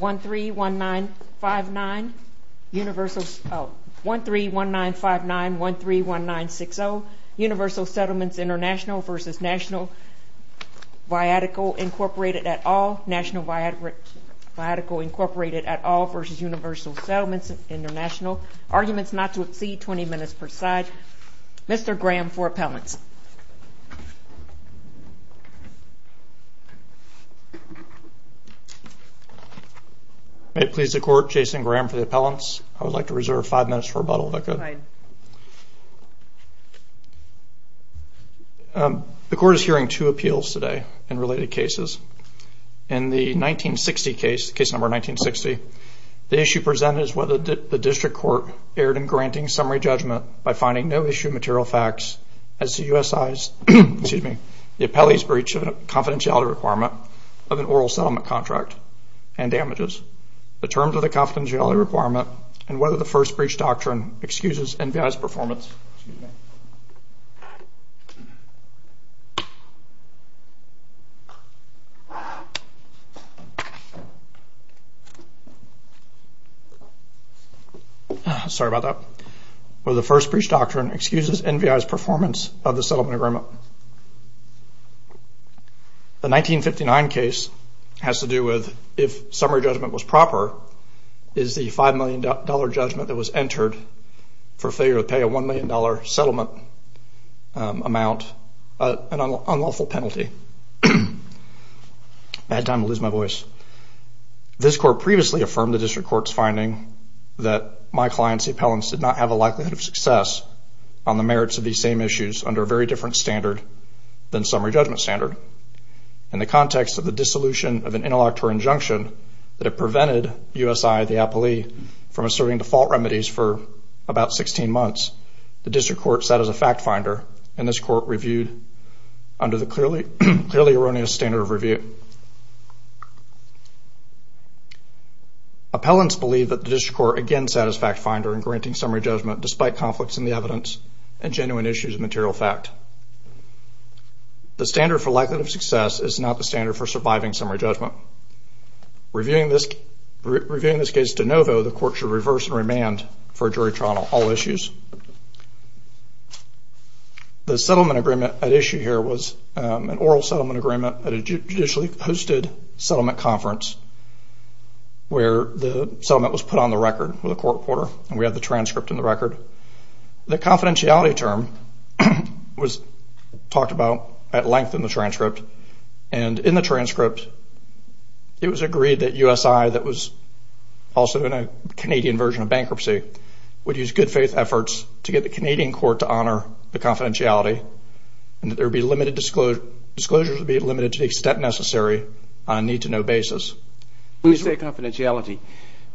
131959 131960 Universal Settlements International v. Natl Viatical Incorporated et al v. Universal Settlements International Arguments not to exceed 20 minutes per side Mr. Graham for appellants May it please the court, Jason Graham for the appellants. I would like to reserve five minutes for rebuttal if that's okay. The court is hearing two appeals today in related cases. In the 1960 case, case number 1960, the issue presented is whether the district court erred in granting summary judgment by finding no issue material facts as the USI's, excuse me, the appellee's breach of confidentiality requirement of an oral settlement contract and damages. The terms of the confidentiality requirement and whether the first breach doctrine excuses NVI's performance. Excuse me. Sorry about that. Whether the first breach doctrine excuses NVI's performance of the settlement agreement. The 1959 case has to do with if summary judgment was proper, is the $5 million judgment that was entered for failure to pay a $1 million settlement amount, an unlawful penalty. Bad time to lose my voice. This court previously affirmed the district court's finding that my client's appellants did not have a likelihood of success on the merits of these same issues under a very different standard than summary judgment standard. In the context of the dissolution of an intellectual injunction that had prevented USI, the appellee, from asserting default remedies for about 16 months, the district court set as a fact finder and this court reviewed under the clearly erroneous standard of review. Appellants believe that the district court again set as fact finder in granting summary judgment despite conflicts in the evidence and genuine issues of material fact. The standard for likelihood of success is not the standard for surviving summary judgment. Reviewing this case de novo, the court should reverse and remand for a jury trial on all issues. The settlement agreement at issue here was an oral settlement agreement at a judicially hosted settlement conference where the settlement was put on the record with a court reporter and we have the transcript in the record. The confidentiality term was talked about at length in the transcript and in the transcript it was agreed that USI that was also in a Canadian version of bankruptcy would use good faith efforts to get the Canadian court to honor the confidentiality and that there would be limited disclosures to be limited to the extent necessary on a need to know basis. Let me say confidentiality.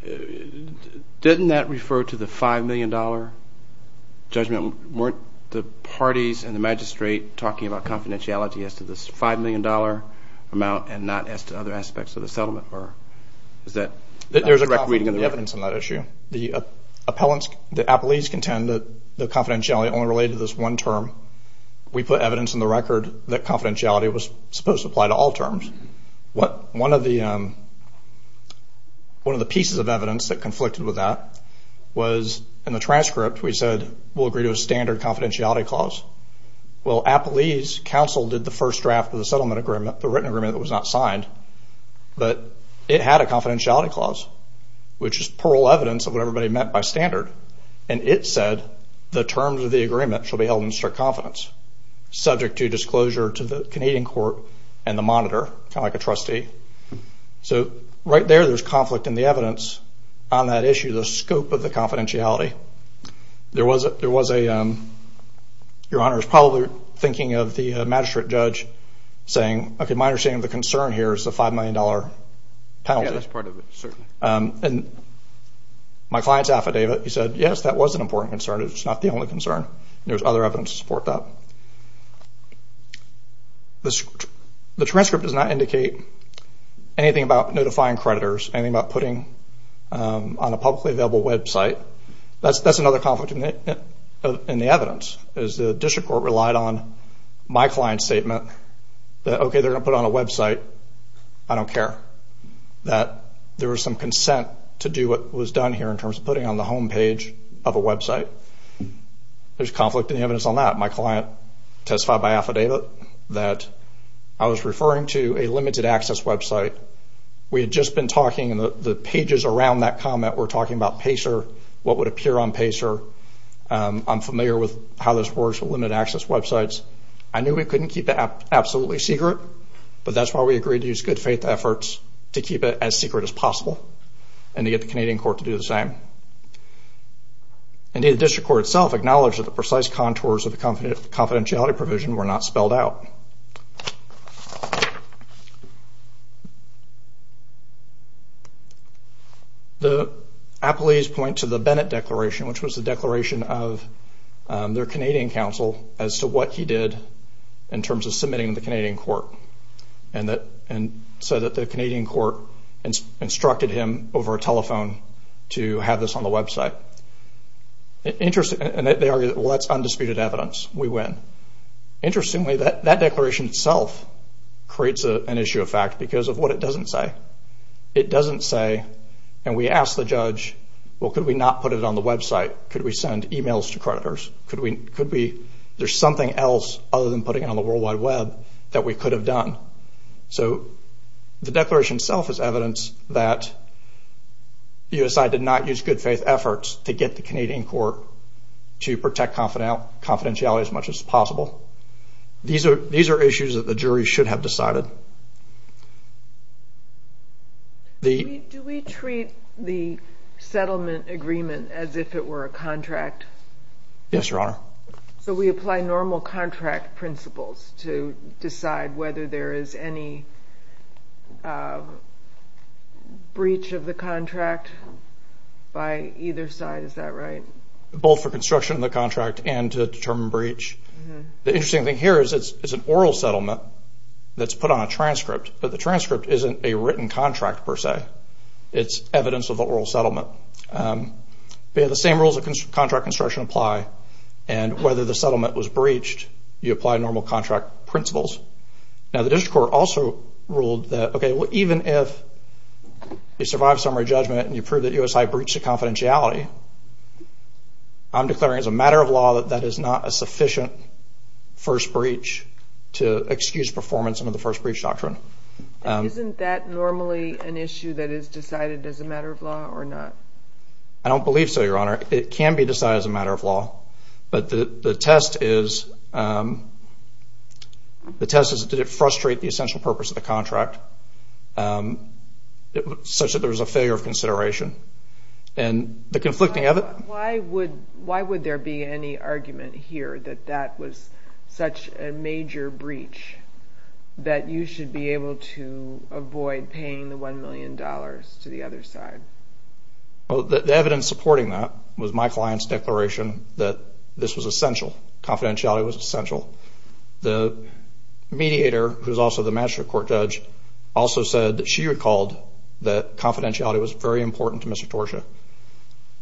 Didn't that refer to the $5 million judgment? Weren't the parties and the magistrate talking about confidentiality as to this $5 million amount and not as to other aspects of the settlement? There's a correct reading of the evidence on that issue. The appellants, the appellees contend that the confidentiality only related to this one term. We put evidence in the record that confidentiality was supposed to apply to all terms. One of the pieces of evidence that conflicted with that was in the transcript we said we'll agree to a standard confidentiality clause. Well, appellees counsel did the first draft of the settlement agreement, the written agreement that was not signed, but it had a confidentiality clause which is plural evidence of what everybody meant by standard and it said the terms of the agreement should be held in strict confidence subject to disclosure to the Canadian court and the monitor, kind of like a trustee. So right there there's conflict in the evidence on that issue, the scope of the confidentiality. There was a, your Honor, probably thinking of the magistrate judge saying, okay, my understanding of the concern here is the $5 million penalty. Yeah, that's part of it, certainly. And my client's affidavit, he said, yes, that was an important concern. It's not the only concern. There's other evidence to support that. The transcript does not indicate anything about notifying creditors, anything about putting on a publicly available website. That's another conflict in the evidence. The district court relied on my client's statement that, okay, they're going to put it on a website, I don't care. That there was some consent to do what was done here in terms of putting it on the homepage of a website. There's conflict in the evidence on that. My client testified by affidavit that I was referring to a limited access website. We had just been talking and the pages around that comment were talking about PACER, what would appear on PACER. I'm familiar with how this works with limited access websites. I knew we couldn't keep it absolutely secret, but that's why we agreed to use good faith efforts to keep it as secret as possible and to get the Canadian court to do the same. Indeed, the district court itself acknowledged that the precise contours of the confidentiality provision were not spelled out. The appellees point to the Bennett Declaration, which was the declaration of their Canadian counsel, as to what he did in terms of submitting to the Canadian court, and said that the Canadian court instructed him over a telephone to have this on the website. They argued, well, that's undisputed evidence, we win. Interestingly, that declaration itself creates an issue of fact because of what it doesn't say. It doesn't say, and we asked the judge, well, could we not put it on the website? Could we send emails to creditors? There's something else other than putting it on the World Wide Web that we could have done. The declaration itself is evidence that USI did not use good faith efforts to get the Canadian court to protect confidentiality as much as possible. These are issues that the jury should have decided. Do we treat the settlement agreement as if it were a contract? Yes, Your Honor. So we apply normal contract principles to decide whether there is any breach of the contract by either side. Is that right? Both for construction of the contract and to determine breach. The interesting thing here is it's an oral settlement that's put on a transcript, but the transcript isn't a written contract per se. It's evidence of the oral settlement. The same rules of contract construction apply, and whether the settlement was breached, you apply normal contract principles. Now, the district court also ruled that, okay, well, even if you survive summary judgment and you prove that USI breached the confidentiality, I'm declaring as a matter of law that that is not a sufficient first breach to excuse performance under the first breach doctrine. Isn't that normally an issue that is decided as a matter of law or not? I don't believe so, Your Honor. It can be decided as a matter of law, but the test is, the test is did it frustrate the essential purpose of the contract, such that there was a failure of consideration, and the conflicting of it. Why would there be any argument here that that was such a major breach that you should be able to avoid paying the $1 million to the other side? The evidence supporting that was my client's declaration that this was essential. Confidentiality was essential. The mediator, who is also the magistrate court judge, also said that she recalled that confidentiality was very important to Mr. Torsha.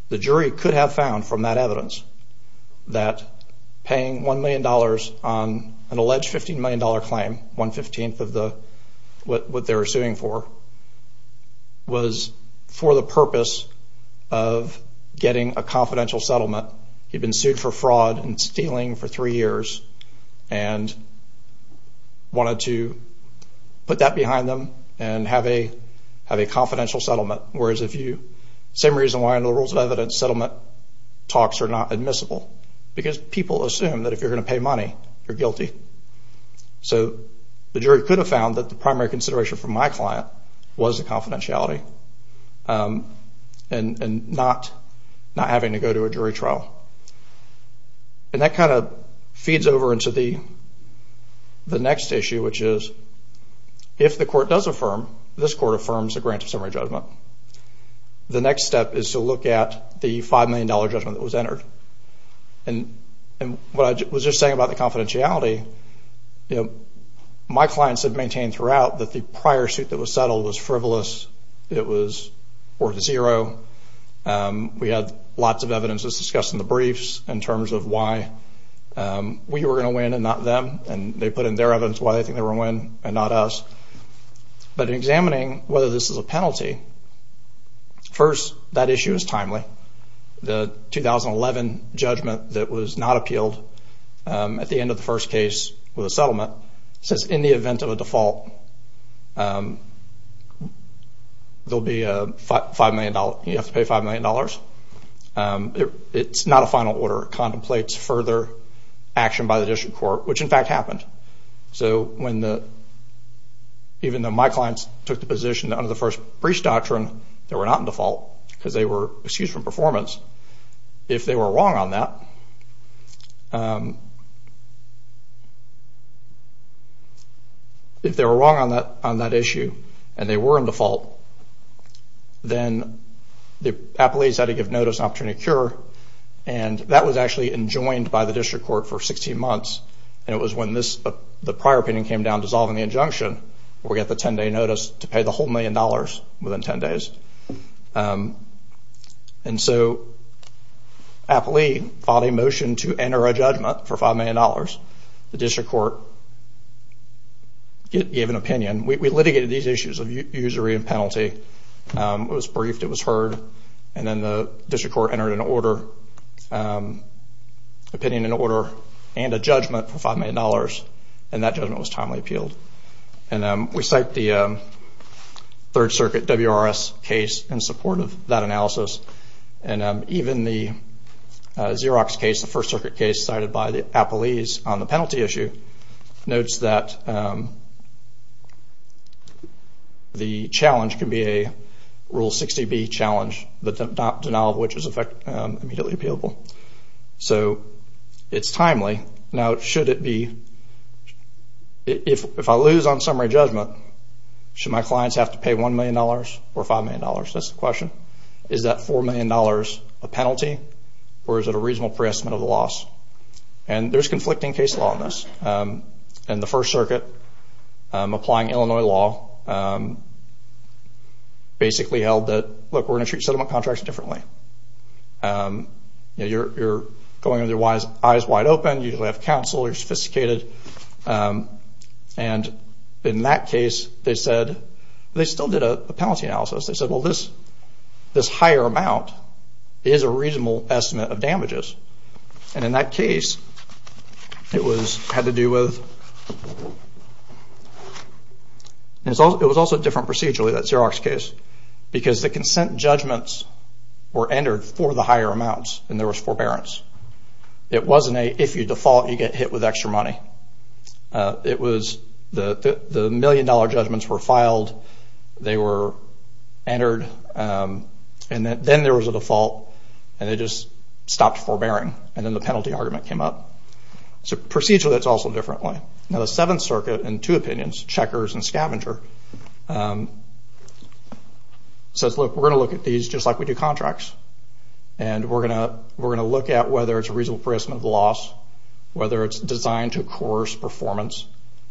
The jury could have found from that evidence that paying $1 million on an alleged $15 million claim, one-fifteenth of what they were suing for, was for the purpose of getting a confidential settlement. He'd been sued for fraud and stealing for three years and wanted to put that behind them and have a confidential settlement. Whereas if you, same reason why under the rules of evidence, settlement talks are not admissible, because people assume that if you're going to pay money, you're guilty. The jury could have found that the primary consideration for my client was the confidentiality and not having to go to a jury trial. That feeds over into the next issue, which is if the court does affirm, this court affirms a grant of summary judgment. The next step is to look at the $5 million judgment that was entered. What I was just saying about the confidentiality, my clients have maintained throughout that the prior suit that was settled was frivolous. It was worth zero. We had lots of evidence, as discussed in the briefs, in terms of why we were going to win and not them. They put in their evidence why they think they were going to win and not us. But in examining whether this is a penalty, first, that issue is timely. The 2011 judgment that was not appealed at the end of the first case with a settlement says in the event of a default, you have to pay $5 million. It's not a final order. It contemplates further action by the district court, which in fact happened. Even though my clients took the position under the first briefs doctrine they were not in default because they were excused from performance, if they were wrong on that issue and they were in default, then the appellees had to give notice and opportunity to cure. That was actually enjoined by the district court for 16 months. It was when the prior opinion came down dissolving the injunction where we got the 10-day notice to pay the whole million dollars within 10 days. So appellee filed a motion to enter a judgment for $5 million. The district court gave an opinion. We litigated these issues of usury and penalty. It was briefed. It was heard. Then the district court entered an opinion in order and a judgment for $5 million. That judgment was timely appealed. We cite the Third Circuit WRS case in support of that analysis. Even the Xerox case, the First Circuit case, cited by the appellees on the penalty issue notes that the challenge could be a Rule 60B challenge, the denial of which is immediately appealable. So it's timely. Now, if I lose on summary judgment, should my clients have to pay $1 million or $5 million? That's the question. Is that $4 million a penalty or is it a reasonable pre-estimate of the loss? There's conflicting case law in this. The First Circuit, applying Illinois law, basically held that, look, we're going to treat settlement contracts differently. You're going in with your eyes wide open. You usually have counsel. You're sophisticated. In that case, they still did a penalty analysis. They said, well, this higher amount is a reasonable estimate of damages. And in that case, it had to do with – it was also different procedurally, that Xerox case, because the consent judgments were entered for the higher amounts and there was forbearance. It wasn't a, if you default, you get hit with extra money. It was the million-dollar judgments were filed, they were entered, and then there was a default and they just stopped forbearing and then the penalty argument came up. So procedurally, that's also a different way. Now, the Seventh Circuit, in two opinions, Checkers and Scavenger, says, look, we're going to look at these just like we do contracts and we're going to look at whether it's a reasonable pre-estimate of the loss, whether it's designed to coerce performance,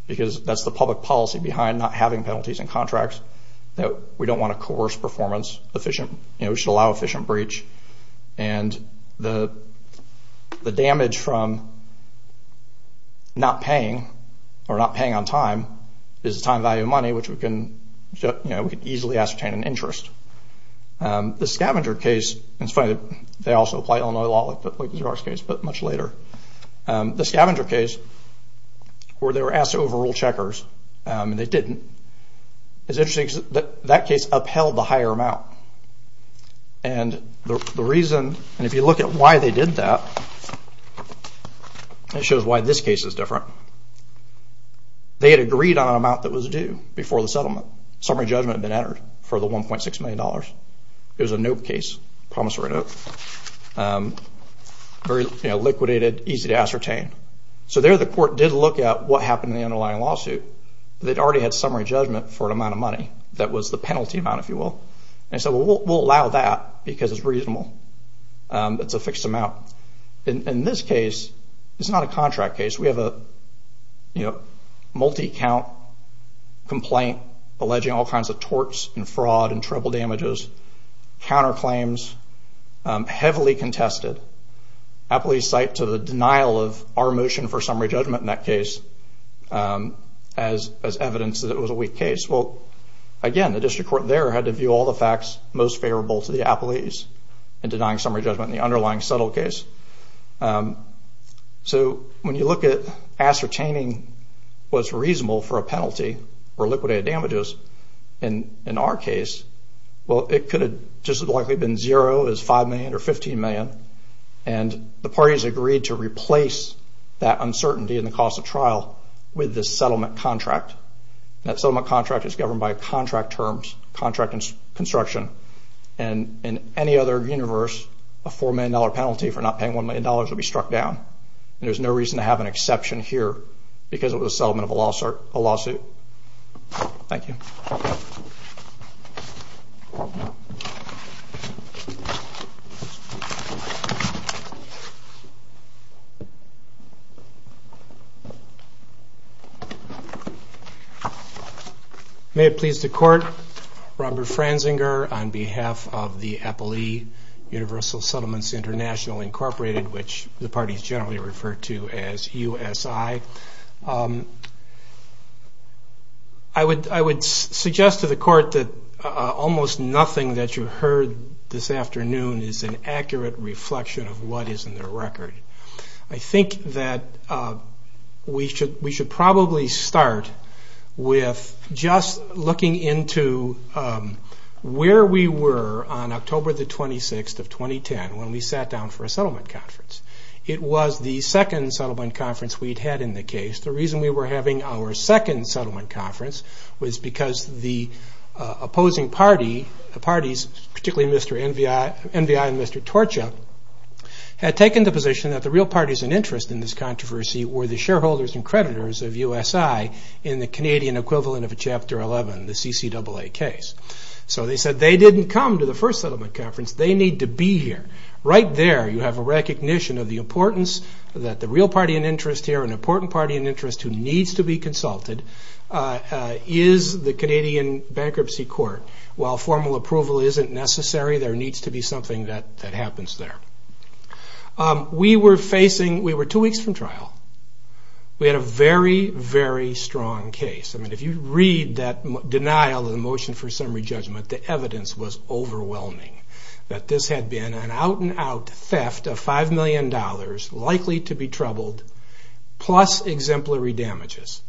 because that's the public policy behind not having penalties in contracts, that we don't want to coerce performance, we should allow efficient breach, and the damage from not paying or not paying on time is the time value of money, which we can easily ascertain in interest. The Scavenger case, and it's funny, they also apply Illinois law like the Xerox case, but much later. The Scavenger case, where they were asked to overrule Checkers and they didn't, it's interesting because that case upheld the higher amount. And the reason, and if you look at why they did that, it shows why this case is different. They had agreed on an amount that was due before the settlement. Summary judgment had been entered for the $1.6 million. It was a note case, promissory note. Very liquidated, easy to ascertain. So there the court did look at what happened in the underlying lawsuit. They'd already had summary judgment for an amount of money. That was the penalty amount, if you will. And so we'll allow that because it's reasonable. It's a fixed amount. In this case, it's not a contract case. We have a multi-account complaint alleging all kinds of torts and fraud and treble damages, counterclaims, heavily contested. Appellees cite to the denial of our motion for summary judgment in that case as evidence that it was a weak case. Well, again, the district court there had to view all the facts most favorable to the appellees in denying summary judgment in the underlying settled case. So when you look at ascertaining what's reasonable for a penalty or liquidated damages in our case, well, it could have just as likely been zero as $5 million or $15 million. And the parties agreed to replace that uncertainty in the cost of trial with this settlement contract. That settlement contract is governed by contract terms, contract and construction. And in any other universe, a $4 million penalty for not paying $1 million would be struck down. And there's no reason to have an exception here because it was a settlement of a lawsuit. Thank you. May it please the court. Robert Franzinger on behalf of the Appellee Universal Settlements International, Incorporated, which the parties generally refer to as USI. I would suggest to the court that almost nothing that you heard this afternoon is an accurate reflection of what is in their record. I think that we should probably start with just looking into where we were on October the 26th of 2010 when we sat down for a settlement conference. It was the second settlement conference we'd had in the case. The reason we were having our second settlement conference was because the opposing parties, particularly Mr. NVI and Mr. Torchia, had taken the position that the real parties in interest in this controversy were the shareholders and creditors of USI in the Canadian equivalent of a Chapter 11, the CCAA case. So they said they didn't come to the first settlement conference. They need to be here. Right there you have a recognition of the importance that the real party in interest here, or an important party in interest who needs to be consulted, is the Canadian Bankruptcy Court. While formal approval isn't necessary, there needs to be something that happens there. We were two weeks from trial. We had a very, very strong case. If you read that denial of the motion for summary judgment, the evidence was overwhelming that this had been an out-and-out theft of $5 million, likely to be troubled, plus exemplary damages.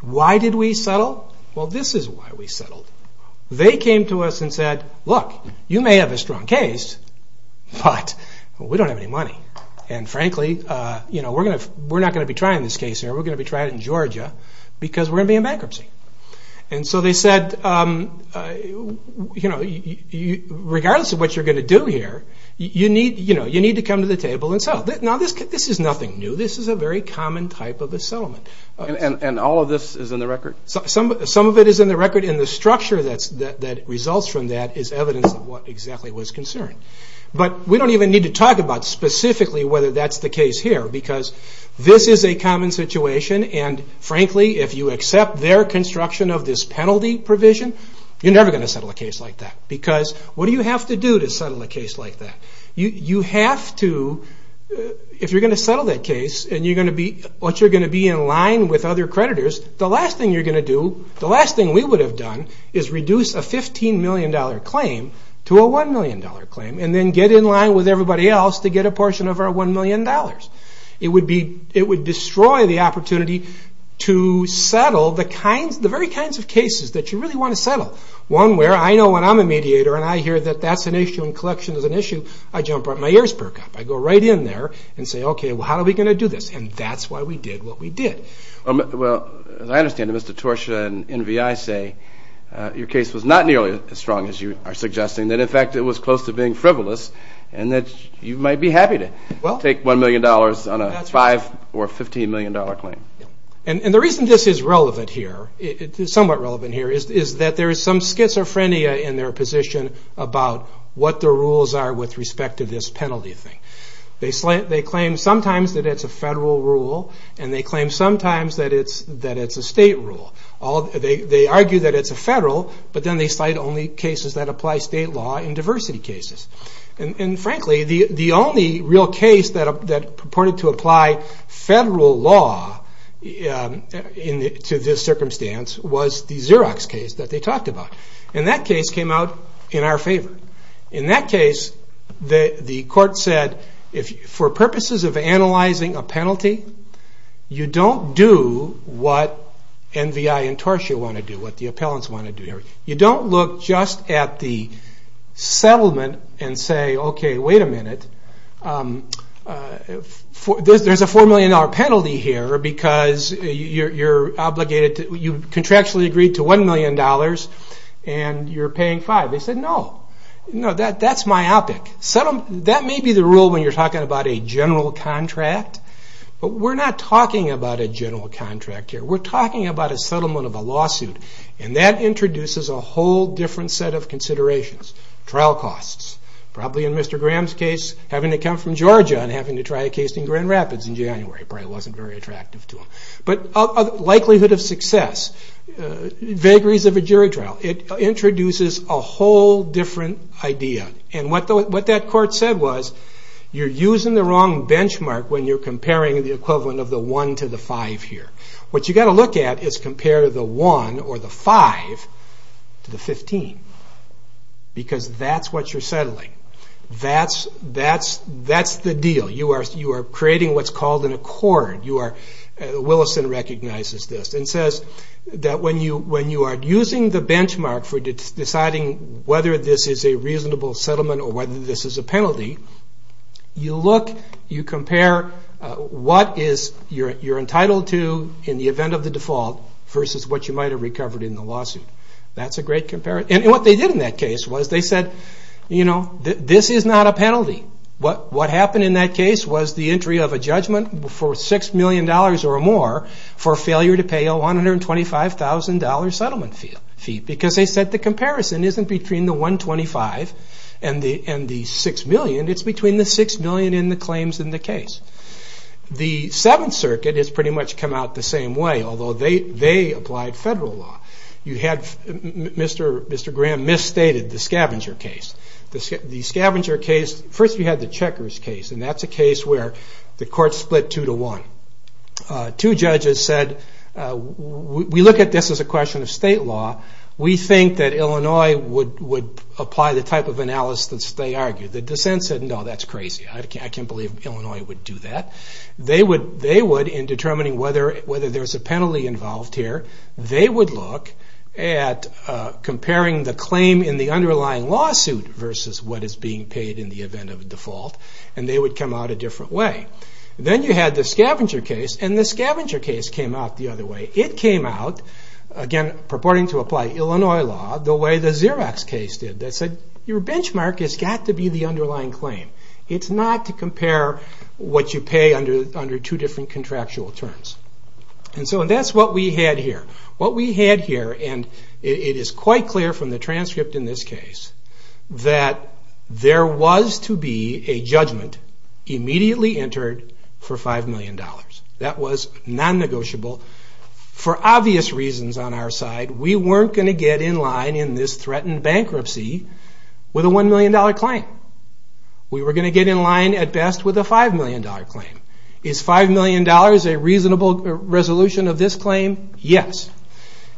Why did we settle? Well, this is why we settled. They came to us and said, look, you may have a strong case, but we don't have any money. And frankly, we're not going to be trying this case here. We're going to be trying it in Georgia because we're going to be in bankruptcy. And so they said, regardless of what you're going to do here, you need to come to the table and settle. Now, this is nothing new. This is a very common type of a settlement. And all of this is in the record? Some of it is in the record, and the structure that results from that is evidence of what exactly was concerned. But we don't even need to talk about specifically whether that's the case here because this is a common situation, and frankly, if you accept their construction of this penalty provision, you're never going to settle a case like that because what do you have to do to settle a case like that? You have to, if you're going to settle that case, and you're going to be in line with other creditors, the last thing you're going to do, the last thing we would have done, is reduce a $15 million claim to a $1 million claim and then get in line with everybody else to get a portion of our $1 million. It would destroy the opportunity to settle the very kinds of cases that you really want to settle. One where I know when I'm a mediator and I hear that that's an issue and collection is an issue, I jump up my ears perk up. I go right in there and say, okay, well, how are we going to do this? And that's why we did what we did. Well, as I understand it, Mr. Torsha and NVI say your case was not nearly as strong as you are suggesting, that in fact it was close to being frivolous, and that you might be happy to take $1 million on a $5 or $15 million claim. And the reason this is relevant here, somewhat relevant here, is that there is some schizophrenia in their position about what the rules are with respect to this penalty thing. They claim sometimes that it's a federal rule, and they claim sometimes that it's a state rule. They argue that it's a federal, but then they cite only cases that apply state law in diversity cases. And frankly, the only real case that purported to apply federal law to this circumstance was the Xerox case that they talked about. And that case came out in our favor. In that case, the court said, for purposes of analyzing a penalty, you don't do what NVI and Torsha want to do, what the appellants want to do. You don't look just at the settlement and say, okay, wait a minute. There's a $4 million penalty here because you contractually agreed to $1 million, and you're paying $5 million. They said, no, that's myopic. That may be the rule when you're talking about a general contract, but we're not talking about a general contract here. We're talking about a settlement of a lawsuit, and that introduces a whole different set of considerations. Trial costs. Probably in Mr. Graham's case, having to come from Georgia and having to try a case in Grand Rapids in January probably wasn't very attractive to him. But likelihood of success. Vagaries of a jury trial. It introduces a whole different idea. And what that court said was, you're using the wrong benchmark when you're comparing the equivalent of the 1 to the 5 here. What you've got to look at is compare the 1 or the 5 to the 15 because that's what you're settling. That's the deal. You are creating what's called an accord. Willison recognizes this and says that when you are using the benchmark for deciding whether this is a reasonable settlement or whether this is a penalty, you compare what you're entitled to in the event of the default versus what you might have recovered in the lawsuit. That's a great comparison. And what they did in that case was they said, you know, this is not a penalty. What happened in that case was the entry of a judgment for $6 million or more for failure to pay a $125,000 settlement fee because they said the comparison isn't between the 125 and the 6 million. It's between the 6 million and the claims in the case. The Seventh Circuit has pretty much come out the same way, although they applied federal law. You had Mr. Graham misstated the scavenger case. The scavenger case, first you had the checkers case, and that's a case where the court split 2 to 1. Two judges said, we look at this as a question of state law. We think that Illinois would apply the type of analysis that they argued. The dissent said, no, that's crazy. I can't believe Illinois would do that. They would, in determining whether there's a penalty involved here, they would look at comparing the claim in the underlying lawsuit versus what is being paid in the event of a default, and they would come out a different way. Then you had the scavenger case, and the scavenger case came out the other way. It came out, again, purporting to apply Illinois law, the way the Xerox case did. They said, your benchmark has got to be the underlying claim. It's not to compare what you pay under two different contractual terms. That's what we had here. What we had here, and it is quite clear from the transcript in this case, that there was to be a judgment immediately entered for $5 million. That was non-negotiable for obvious reasons on our side. We weren't going to get in line in this threatened bankruptcy with a $1 million claim. We were going to get in line, at best, with a $5 million claim. Is $5 million a reasonable resolution of this claim? Yes.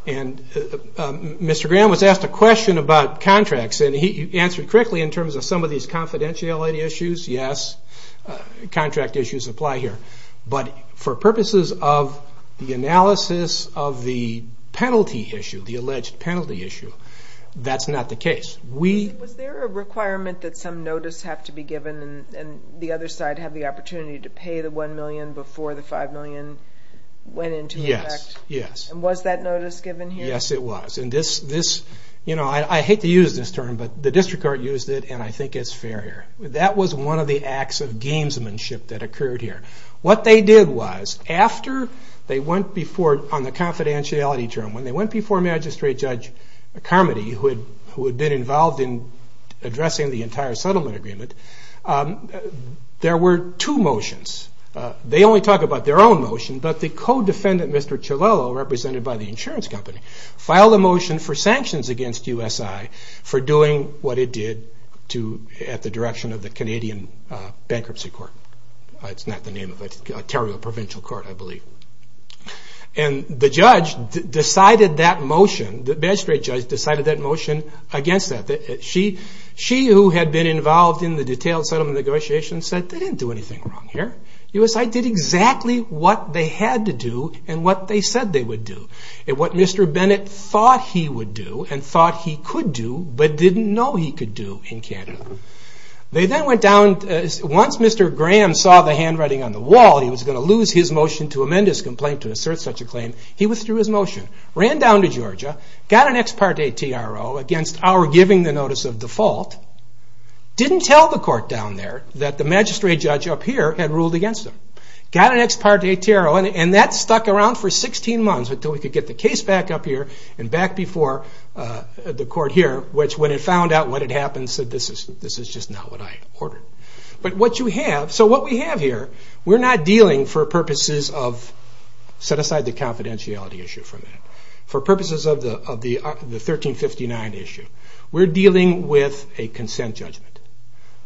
Mr. Graham was asked a question about contracts, and he answered correctly in terms of some of these confidentiality issues. Yes, contract issues apply here. But for purposes of the analysis of the penalty issue, the alleged penalty issue, that's not the case. Was there a requirement that some notice have to be given and the other side have the opportunity to pay the $1 million before the $5 million went into effect? Yes. Was that notice given here? Yes, it was. I hate to use this term, but the district court used it, and I think it's fair here. That was one of the acts of gamesmanship that occurred here. What they did was, on the confidentiality term, when they went before Magistrate Judge Carmody, who had been involved in addressing the entire settlement agreement, there were two motions. They only talk about their own motion, but the co-defendant, Mr. Chilolo, represented by the insurance company, filed a motion for sanctions against USI for doing what it did at the direction of the Canadian Bankruptcy Court. It's not the name of it. Ontario Provincial Court, I believe. The judge decided that motion. The magistrate judge decided that motion against that. She, who had been involved in the detailed settlement negotiations, said they didn't do anything wrong here. USI did exactly what they had to do and what they said they would do, and what Mr. Bennett thought he would do and thought he could do, but didn't know he could do in Canada. Once Mr. Graham saw the handwriting on the wall, he was going to lose his motion to amend his complaint to assert such a claim. He withdrew his motion, ran down to Georgia, got an ex parte TRO against our giving the notice of default, didn't tell the court down there that the magistrate judge up here had ruled against him. Got an ex parte TRO, and that stuck around for 16 months until we could get the case back up here and back before the court here, which, when it found out what had happened, said this is just not what I ordered. But what you have, so what we have here, we're not dealing for purposes of, set aside the confidentiality issue for a minute, for purposes of the 1359 issue, we're dealing with a consent judgment.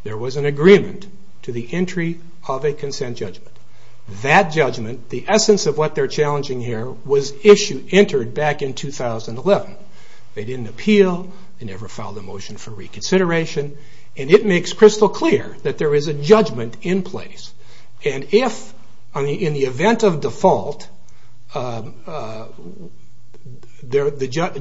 There was an agreement to the entry of a consent judgment. That judgment, the essence of what they're challenging here, was issued, entered back in 2011. They didn't appeal, they never filed a motion for reconsideration, and it makes crystal clear that there is a judgment in place. And if, in the event of default, the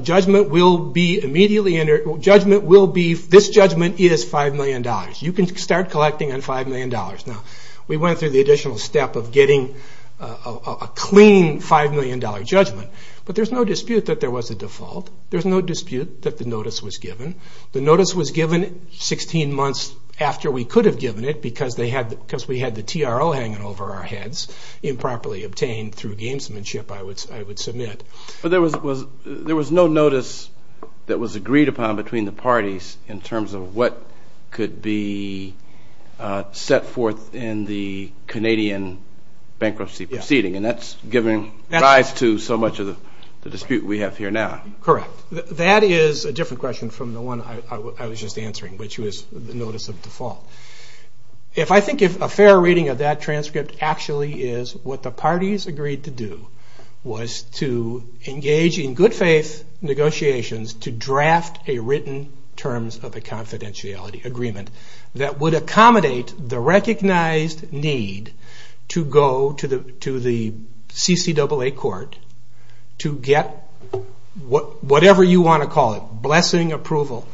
judgment will be immediately entered, judgment will be, this judgment is $5 million. You can start collecting on $5 million. Now, we went through the additional step of getting a clean $5 million judgment, but there's no dispute that there was a default. There's no dispute that the notice was given. The notice was given 16 months after we could have given it, because we had the TRO hanging over our heads, improperly obtained through gamesmanship, I would submit. But there was no notice that was agreed upon between the parties in terms of what could be set forth in the Canadian bankruptcy proceeding, and that's given rise to so much of the dispute we have here now. Correct. That is a different question from the one I was just answering, which was the notice of default. If I think a fair reading of that transcript actually is what the parties agreed to do was to engage in good faith negotiations to draft a written terms of a confidentiality agreement that would accommodate the recognized need to go to the CCAA court to get whatever you want to call it, blessing approval.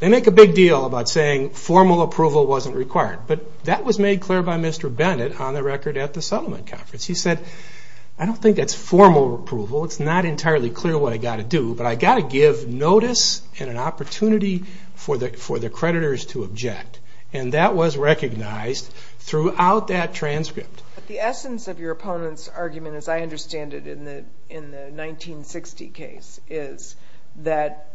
They make a big deal about saying formal approval wasn't required, but that was made clear by Mr. Bennett on the record at the settlement conference. He said, I don't think that's formal approval. It's not entirely clear what I've got to do, but I've got to give notice and an opportunity for the creditors to object, and that was recognized throughout that transcript. The essence of your opponent's argument, as I understand it, in the 1960 case is that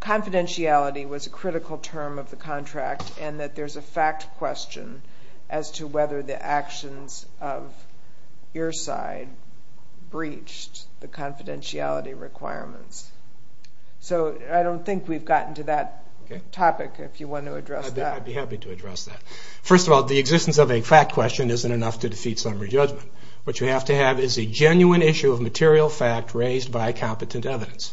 confidentiality was a critical term of the contract and that there's a fact question as to whether the actions of your side breached the confidentiality requirements. So I don't think we've gotten to that topic, if you want to address that. I'd be happy to address that. First of all, the existence of a fact question isn't enough to defeat summary judgment. What you have to have is a genuine issue of material fact raised by competent evidence.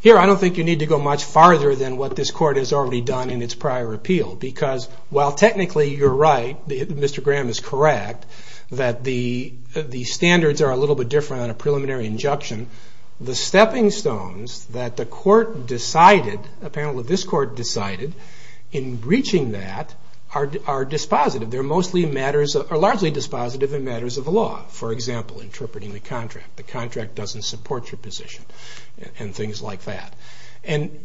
Here, I don't think you need to go much farther than what this court has already done in its prior appeal, because while technically you're right, Mr. Graham is correct, that the standards are a little bit different on a preliminary injunction, the stepping stones that the court decided, apparently this court decided, in breaching that are dispositive. They're largely dispositive in matters of the law. For example, interpreting the contract, the contract doesn't support your position, and things like that. And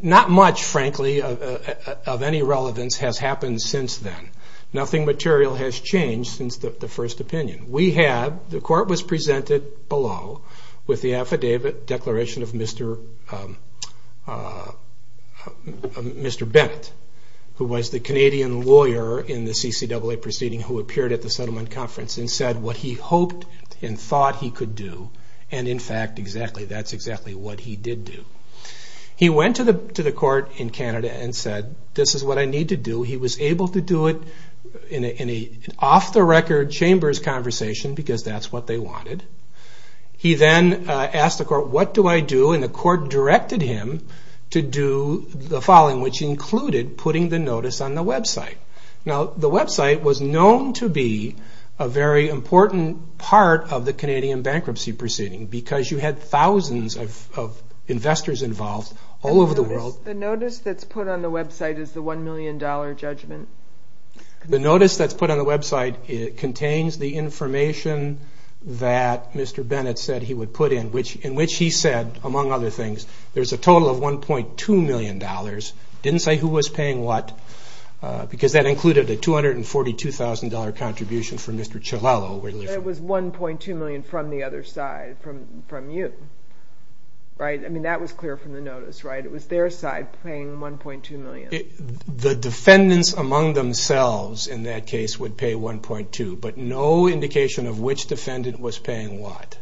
not much, frankly, of any relevance has happened since then. Nothing material has changed since the first opinion. The court was presented below with the affidavit declaration of Mr. Bennett, who was the Canadian lawyer in the CCAA proceeding who appeared at the settlement conference and said what he hoped and thought he could do, and in fact, that's exactly what he did do. He went to the court in Canada and said, this is what I need to do. He was able to do it in an off-the-record chambers conversation, because that's what they wanted. He then asked the court, what do I do? And the court directed him to do the following, which included putting the notice on the website. Now, the website was known to be a very important part of the Canadian bankruptcy proceeding, because you had thousands of investors involved all over the world. The notice that's put on the website is the $1 million judgment? The notice that's put on the website contains the information that Mr. Bennett said he would put in, in which he said, among other things, there's a total of $1.2 million. It didn't say who was paying what, because that included a $242,000 contribution from Mr. Chilelo. It was $1.2 million from the other side, from you, right? I mean, that was clear from the notice, right? It was their side paying $1.2 million. The defendants among themselves in that case would pay $1.2, but no indication of which defendant was paying what,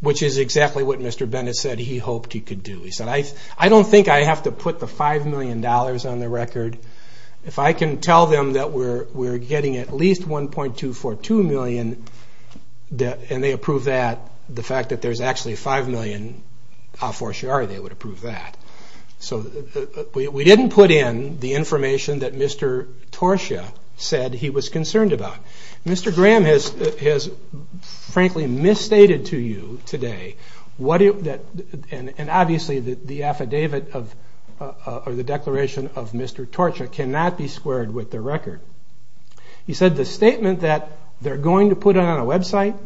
which is exactly what Mr. Bennett said he hoped he could do. He said, I don't think I have to put the $5 million on the record. If I can tell them that we're getting at least $1.242 million, and they approve that, the fact that there's actually $5 million, how for sure are they would approve that? So we didn't put in the information that Mr. Torshia said he was concerned about. Mr. Graham has frankly misstated to you today, and obviously the affidavit or the declaration of Mr. Torshia cannot be squared with the record. He said the statement that they're going to put it on a website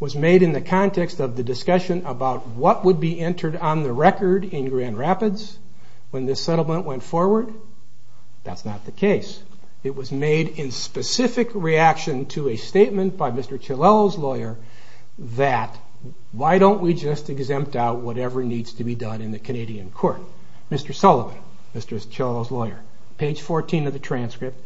was made in the context of the discussion about what would be entered on the record in Grand Rapids when this settlement went forward. That's not the case. It was made in specific reaction to a statement by Mr. Chilelo's lawyer that why don't we just exempt out whatever needs to be done in the Canadian court. Mr. Sullivan, Mr. Chilelo's lawyer, page 14 of the transcript,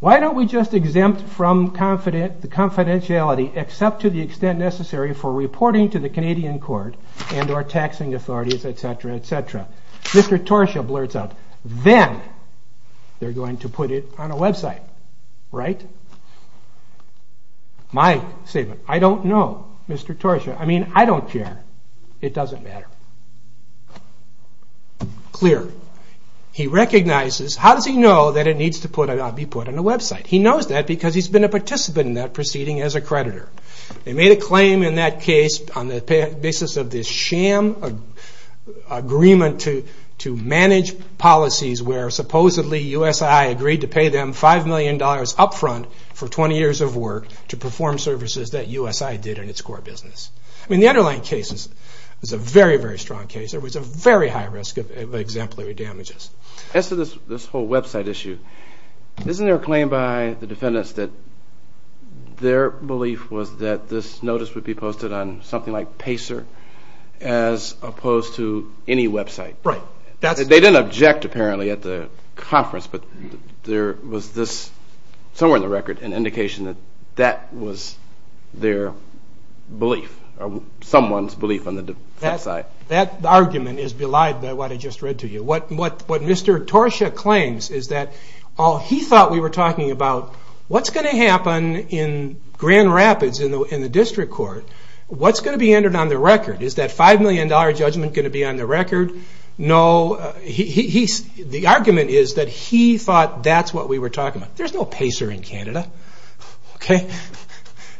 why don't we just exempt from confidentiality except to the extent necessary for reporting to the Canadian court Mr. Torshia blurts out, then they're going to put it on a website, right? My statement, I don't know Mr. Torshia, I mean I don't care. It doesn't matter. Clear. He recognizes, how does he know that it needs to be put on a website? He knows that because he's been a participant in that proceeding as a creditor. They made a claim in that case on the basis of this sham agreement to manage policies where supposedly USII agreed to pay them $5 million up front for 20 years of work to perform services that USII did in its core business. I mean the underlying case is a very, very strong case. There was a very high risk of exemplary damages. As to this whole website issue, isn't there a claim by the defendants that their belief was that this notice would be posted on something like Pacer as opposed to any website? Right. They didn't object apparently at the conference, but there was somewhere in the record an indication that that was their belief, someone's belief on the website. That argument is belied by what I just read to you. What Mr. Torshia claims is that he thought we were talking about what's going to happen in Grand Rapids in the district court? What's going to be entered on the record? Is that $5 million judgment going to be on the record? No. The argument is that he thought that's what we were talking about. There's no Pacer in Canada. Okay.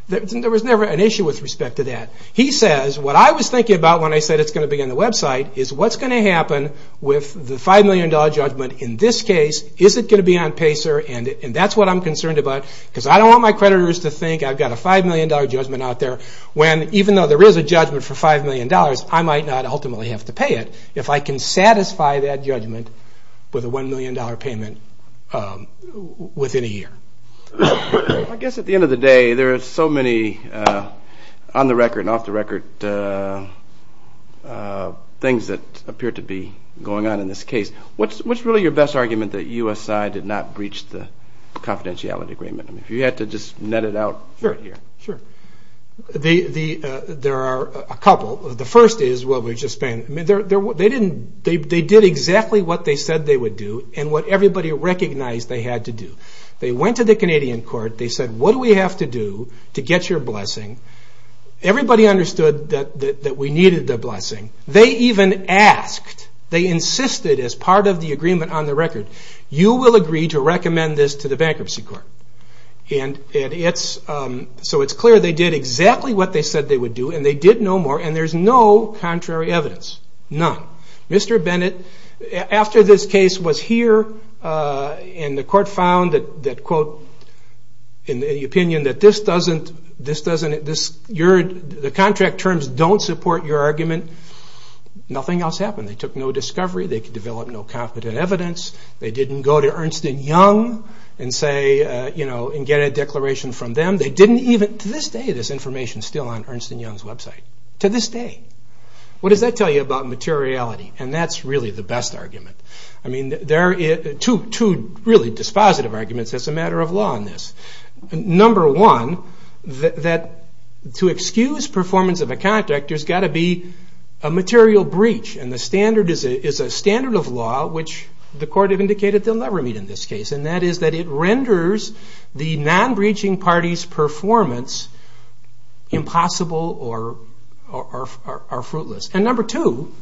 There was never an issue with respect to that. He says what I was thinking about when I said it's going to be on the website is what's going to happen with the $5 million judgment in this case? Is it going to be on Pacer? That's what I'm concerned about because I don't want my creditors to think I've got a $5 million judgment out there when even though there is a judgment for $5 million, I might not ultimately have to pay it if I can satisfy that judgment with a $1 million payment within a year. I guess at the end of the day there are so many on the record and off the record things that appear to be going on in this case. What's really your best argument that USI did not breach the confidentiality agreement? If you had to just net it out here. Sure. There are a couple. The first is what we've just been. They did exactly what they said they would do and what everybody recognized they had to do. They went to the Canadian court. They said, what do we have to do to get your blessing? Everybody understood that we needed the blessing. They even asked, they insisted as part of the agreement on the record, you will agree to recommend this to the bankruptcy court. It's clear they did exactly what they said they would do and they did no more and there's no contrary evidence. None. Mr. Bennett, after this case was here and the court found that, in the opinion that the contract terms don't support your argument, nothing else happened. They took no discovery. They could develop no competent evidence. They didn't go to Ernst & Young and get a declaration from them. They didn't even, to this day there's information still on Ernst & Young's website. To this day. What does that tell you about materiality? That's really the best argument. There are two really dispositive arguments as a matter of law in this. Number one, that to excuse performance of a contract, there's got to be a material breach. The standard is a standard of law, which the court indicated they'll never meet in this case. That is that it renders the non-breaching party's performance impossible or fruitless. Number two,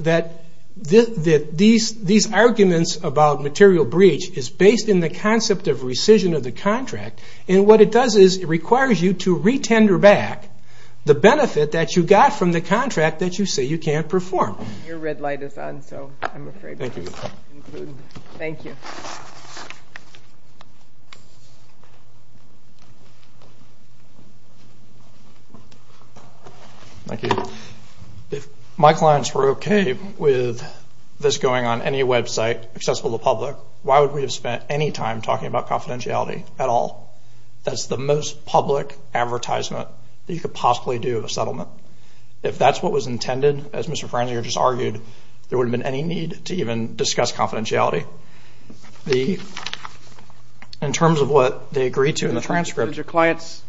that these arguments about material breach is based in the concept of rescission of the contract. What it does is it requires you to re-tender back the benefit that you got from the contract that you say you can't perform. Your red light is on, so I'm afraid we can't conclude. Thank you. If my clients were okay with this going on any website accessible to public, why would we have spent any time talking about confidentiality at all? That's the most public advertisement that you could possibly do of a settlement. If that's what was intended, as Mr. Franzinger just argued, there wouldn't have been any need to even discuss confidentiality. In terms of what they agreed to in the transcript. Did your clients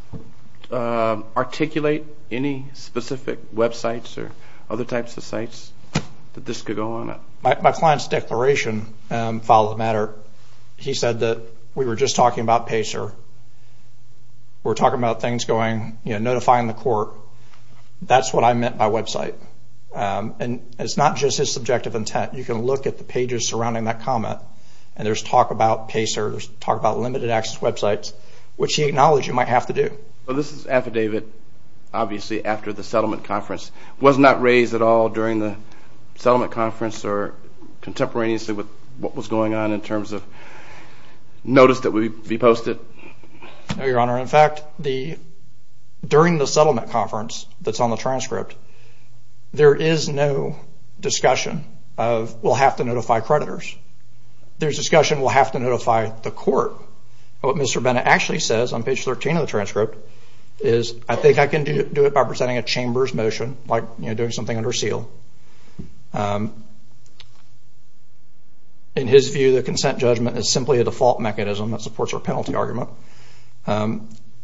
articulate any specific websites or other types of sites that this could go on? My client's declaration followed the matter. He said that we were just talking about PACER. We're talking about things going, you know, notifying the court. That's what I meant by website. And it's not just his subjective intent. You can look at the pages surrounding that comment, and there's talk about PACER. There's talk about limited access websites, which he acknowledged you might have to do. Well, this is affidavit, obviously, after the settlement conference. Wasn't that raised at all during the settlement conference or contemporaneously with what was going on in terms of notice that would be posted? No, Your Honor. In fact, during the settlement conference that's on the transcript, there is no discussion of we'll have to notify creditors. There's discussion we'll have to notify the court. What Mr. Bennett actually says on page 13 of the transcript is, I think I can do it by presenting a chamber's motion, like, you know, doing something under seal. In his view, the consent judgment is simply a default mechanism that supports our penalty argument.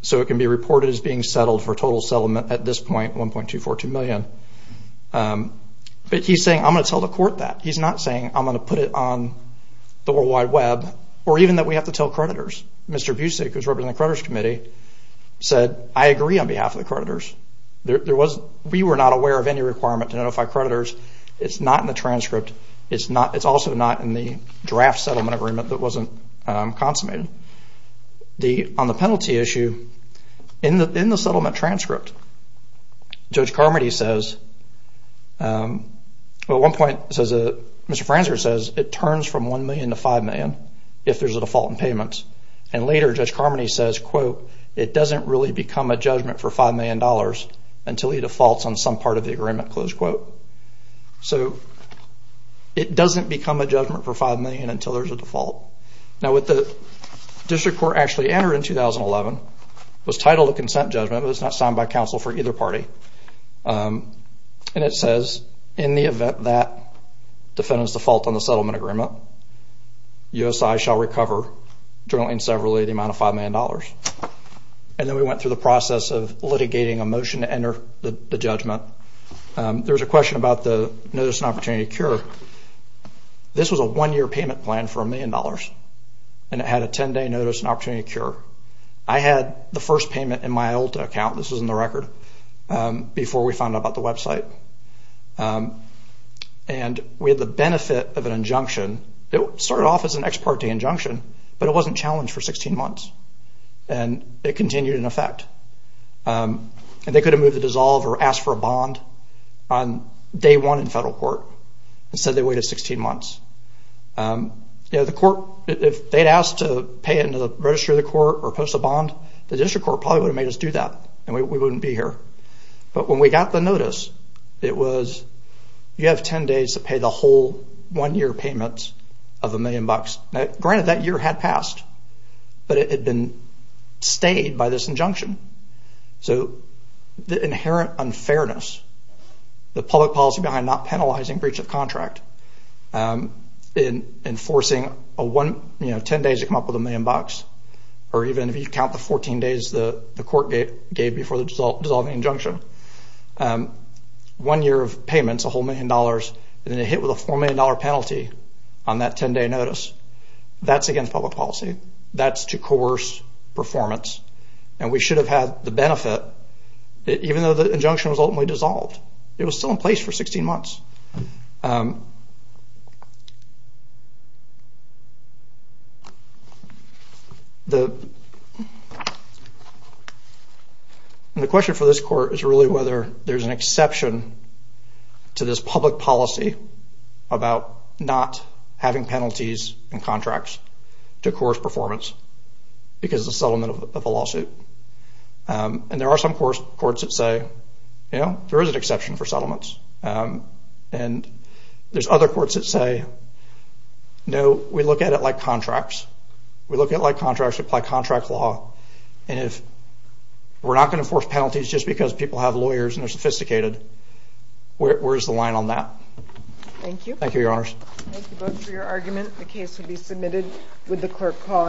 So it can be reported as being settled for total settlement at this point, $1.242 million. But he's saying I'm going to tell the court that. He's not saying I'm going to put it on the World Wide Web or even that we have to tell creditors. Mr. Busick, who's representing the creditors committee, said, I agree on behalf of the creditors. We were not aware of any requirement to notify creditors. It's not in the transcript. It's also not in the draft settlement agreement that wasn't consummated. On the penalty issue, in the settlement transcript, Judge Carmody says, Well, at one point, Mr. Franzer says, it turns from $1 million to $5 million if there's a default in payments. And later, Judge Carmody says, quote, it doesn't really become a judgment for $5 million until he defaults on some part of the agreement, close quote. So it doesn't become a judgment for $5 million until there's a default. Now, what the district court actually entered in 2011 was titled a consent judgment, but it's not signed by counsel for either party. And it says, in the event that defendants default on the settlement agreement, USI shall recover, generally and severally, the amount of $5 million. And then we went through the process of litigating a motion to enter the judgment. There was a question about the notice and opportunity to cure. This was a one-year payment plan for $1 million, and it had a 10-day notice and opportunity to cure. I had the first payment in my old account. This was in the record before we found out about the website. And we had the benefit of an injunction. It started off as an ex parte injunction, but it wasn't challenged for 16 months. And it continued in effect. And they could have moved the dissolve or asked for a bond on day one in federal court. Instead, they waited 16 months. If they had asked to pay it in the registry of the court or post a bond, the district court probably would have made us do that, and we wouldn't be here. But when we got the notice, it was, you have 10 days to pay the whole one-year payment of $1 million. Granted, that year had passed, but it had been stayed by this injunction. So the inherent unfairness, the public policy behind not penalizing breach of contract, enforcing 10 days to come up with $1 million, or even if you count the 14 days the court gave before the dissolving injunction, one year of payments, a whole million dollars, and then it hit with a $4 million penalty on that 10-day notice, that's against public policy. That's to coerce performance. And we should have had the benefit that even though the injunction was ultimately dissolved, it was still in place for 16 months. And the question for this court is really whether there's an exception to this public policy about not having penalties and contracts to coerce performance because of the settlement of the lawsuit. And there are some courts that say, you know, there is an exception for settlements. And there's other courts that say, no, we look at it like contracts. We look at it like contracts. We apply contract law. And if we're not going to force penalties just because people have lawyers and they're sophisticated, where's the line on that? Thank you. Thank you, Your Honors. Thank you both for your argument. The case will be submitted with the clerk calling.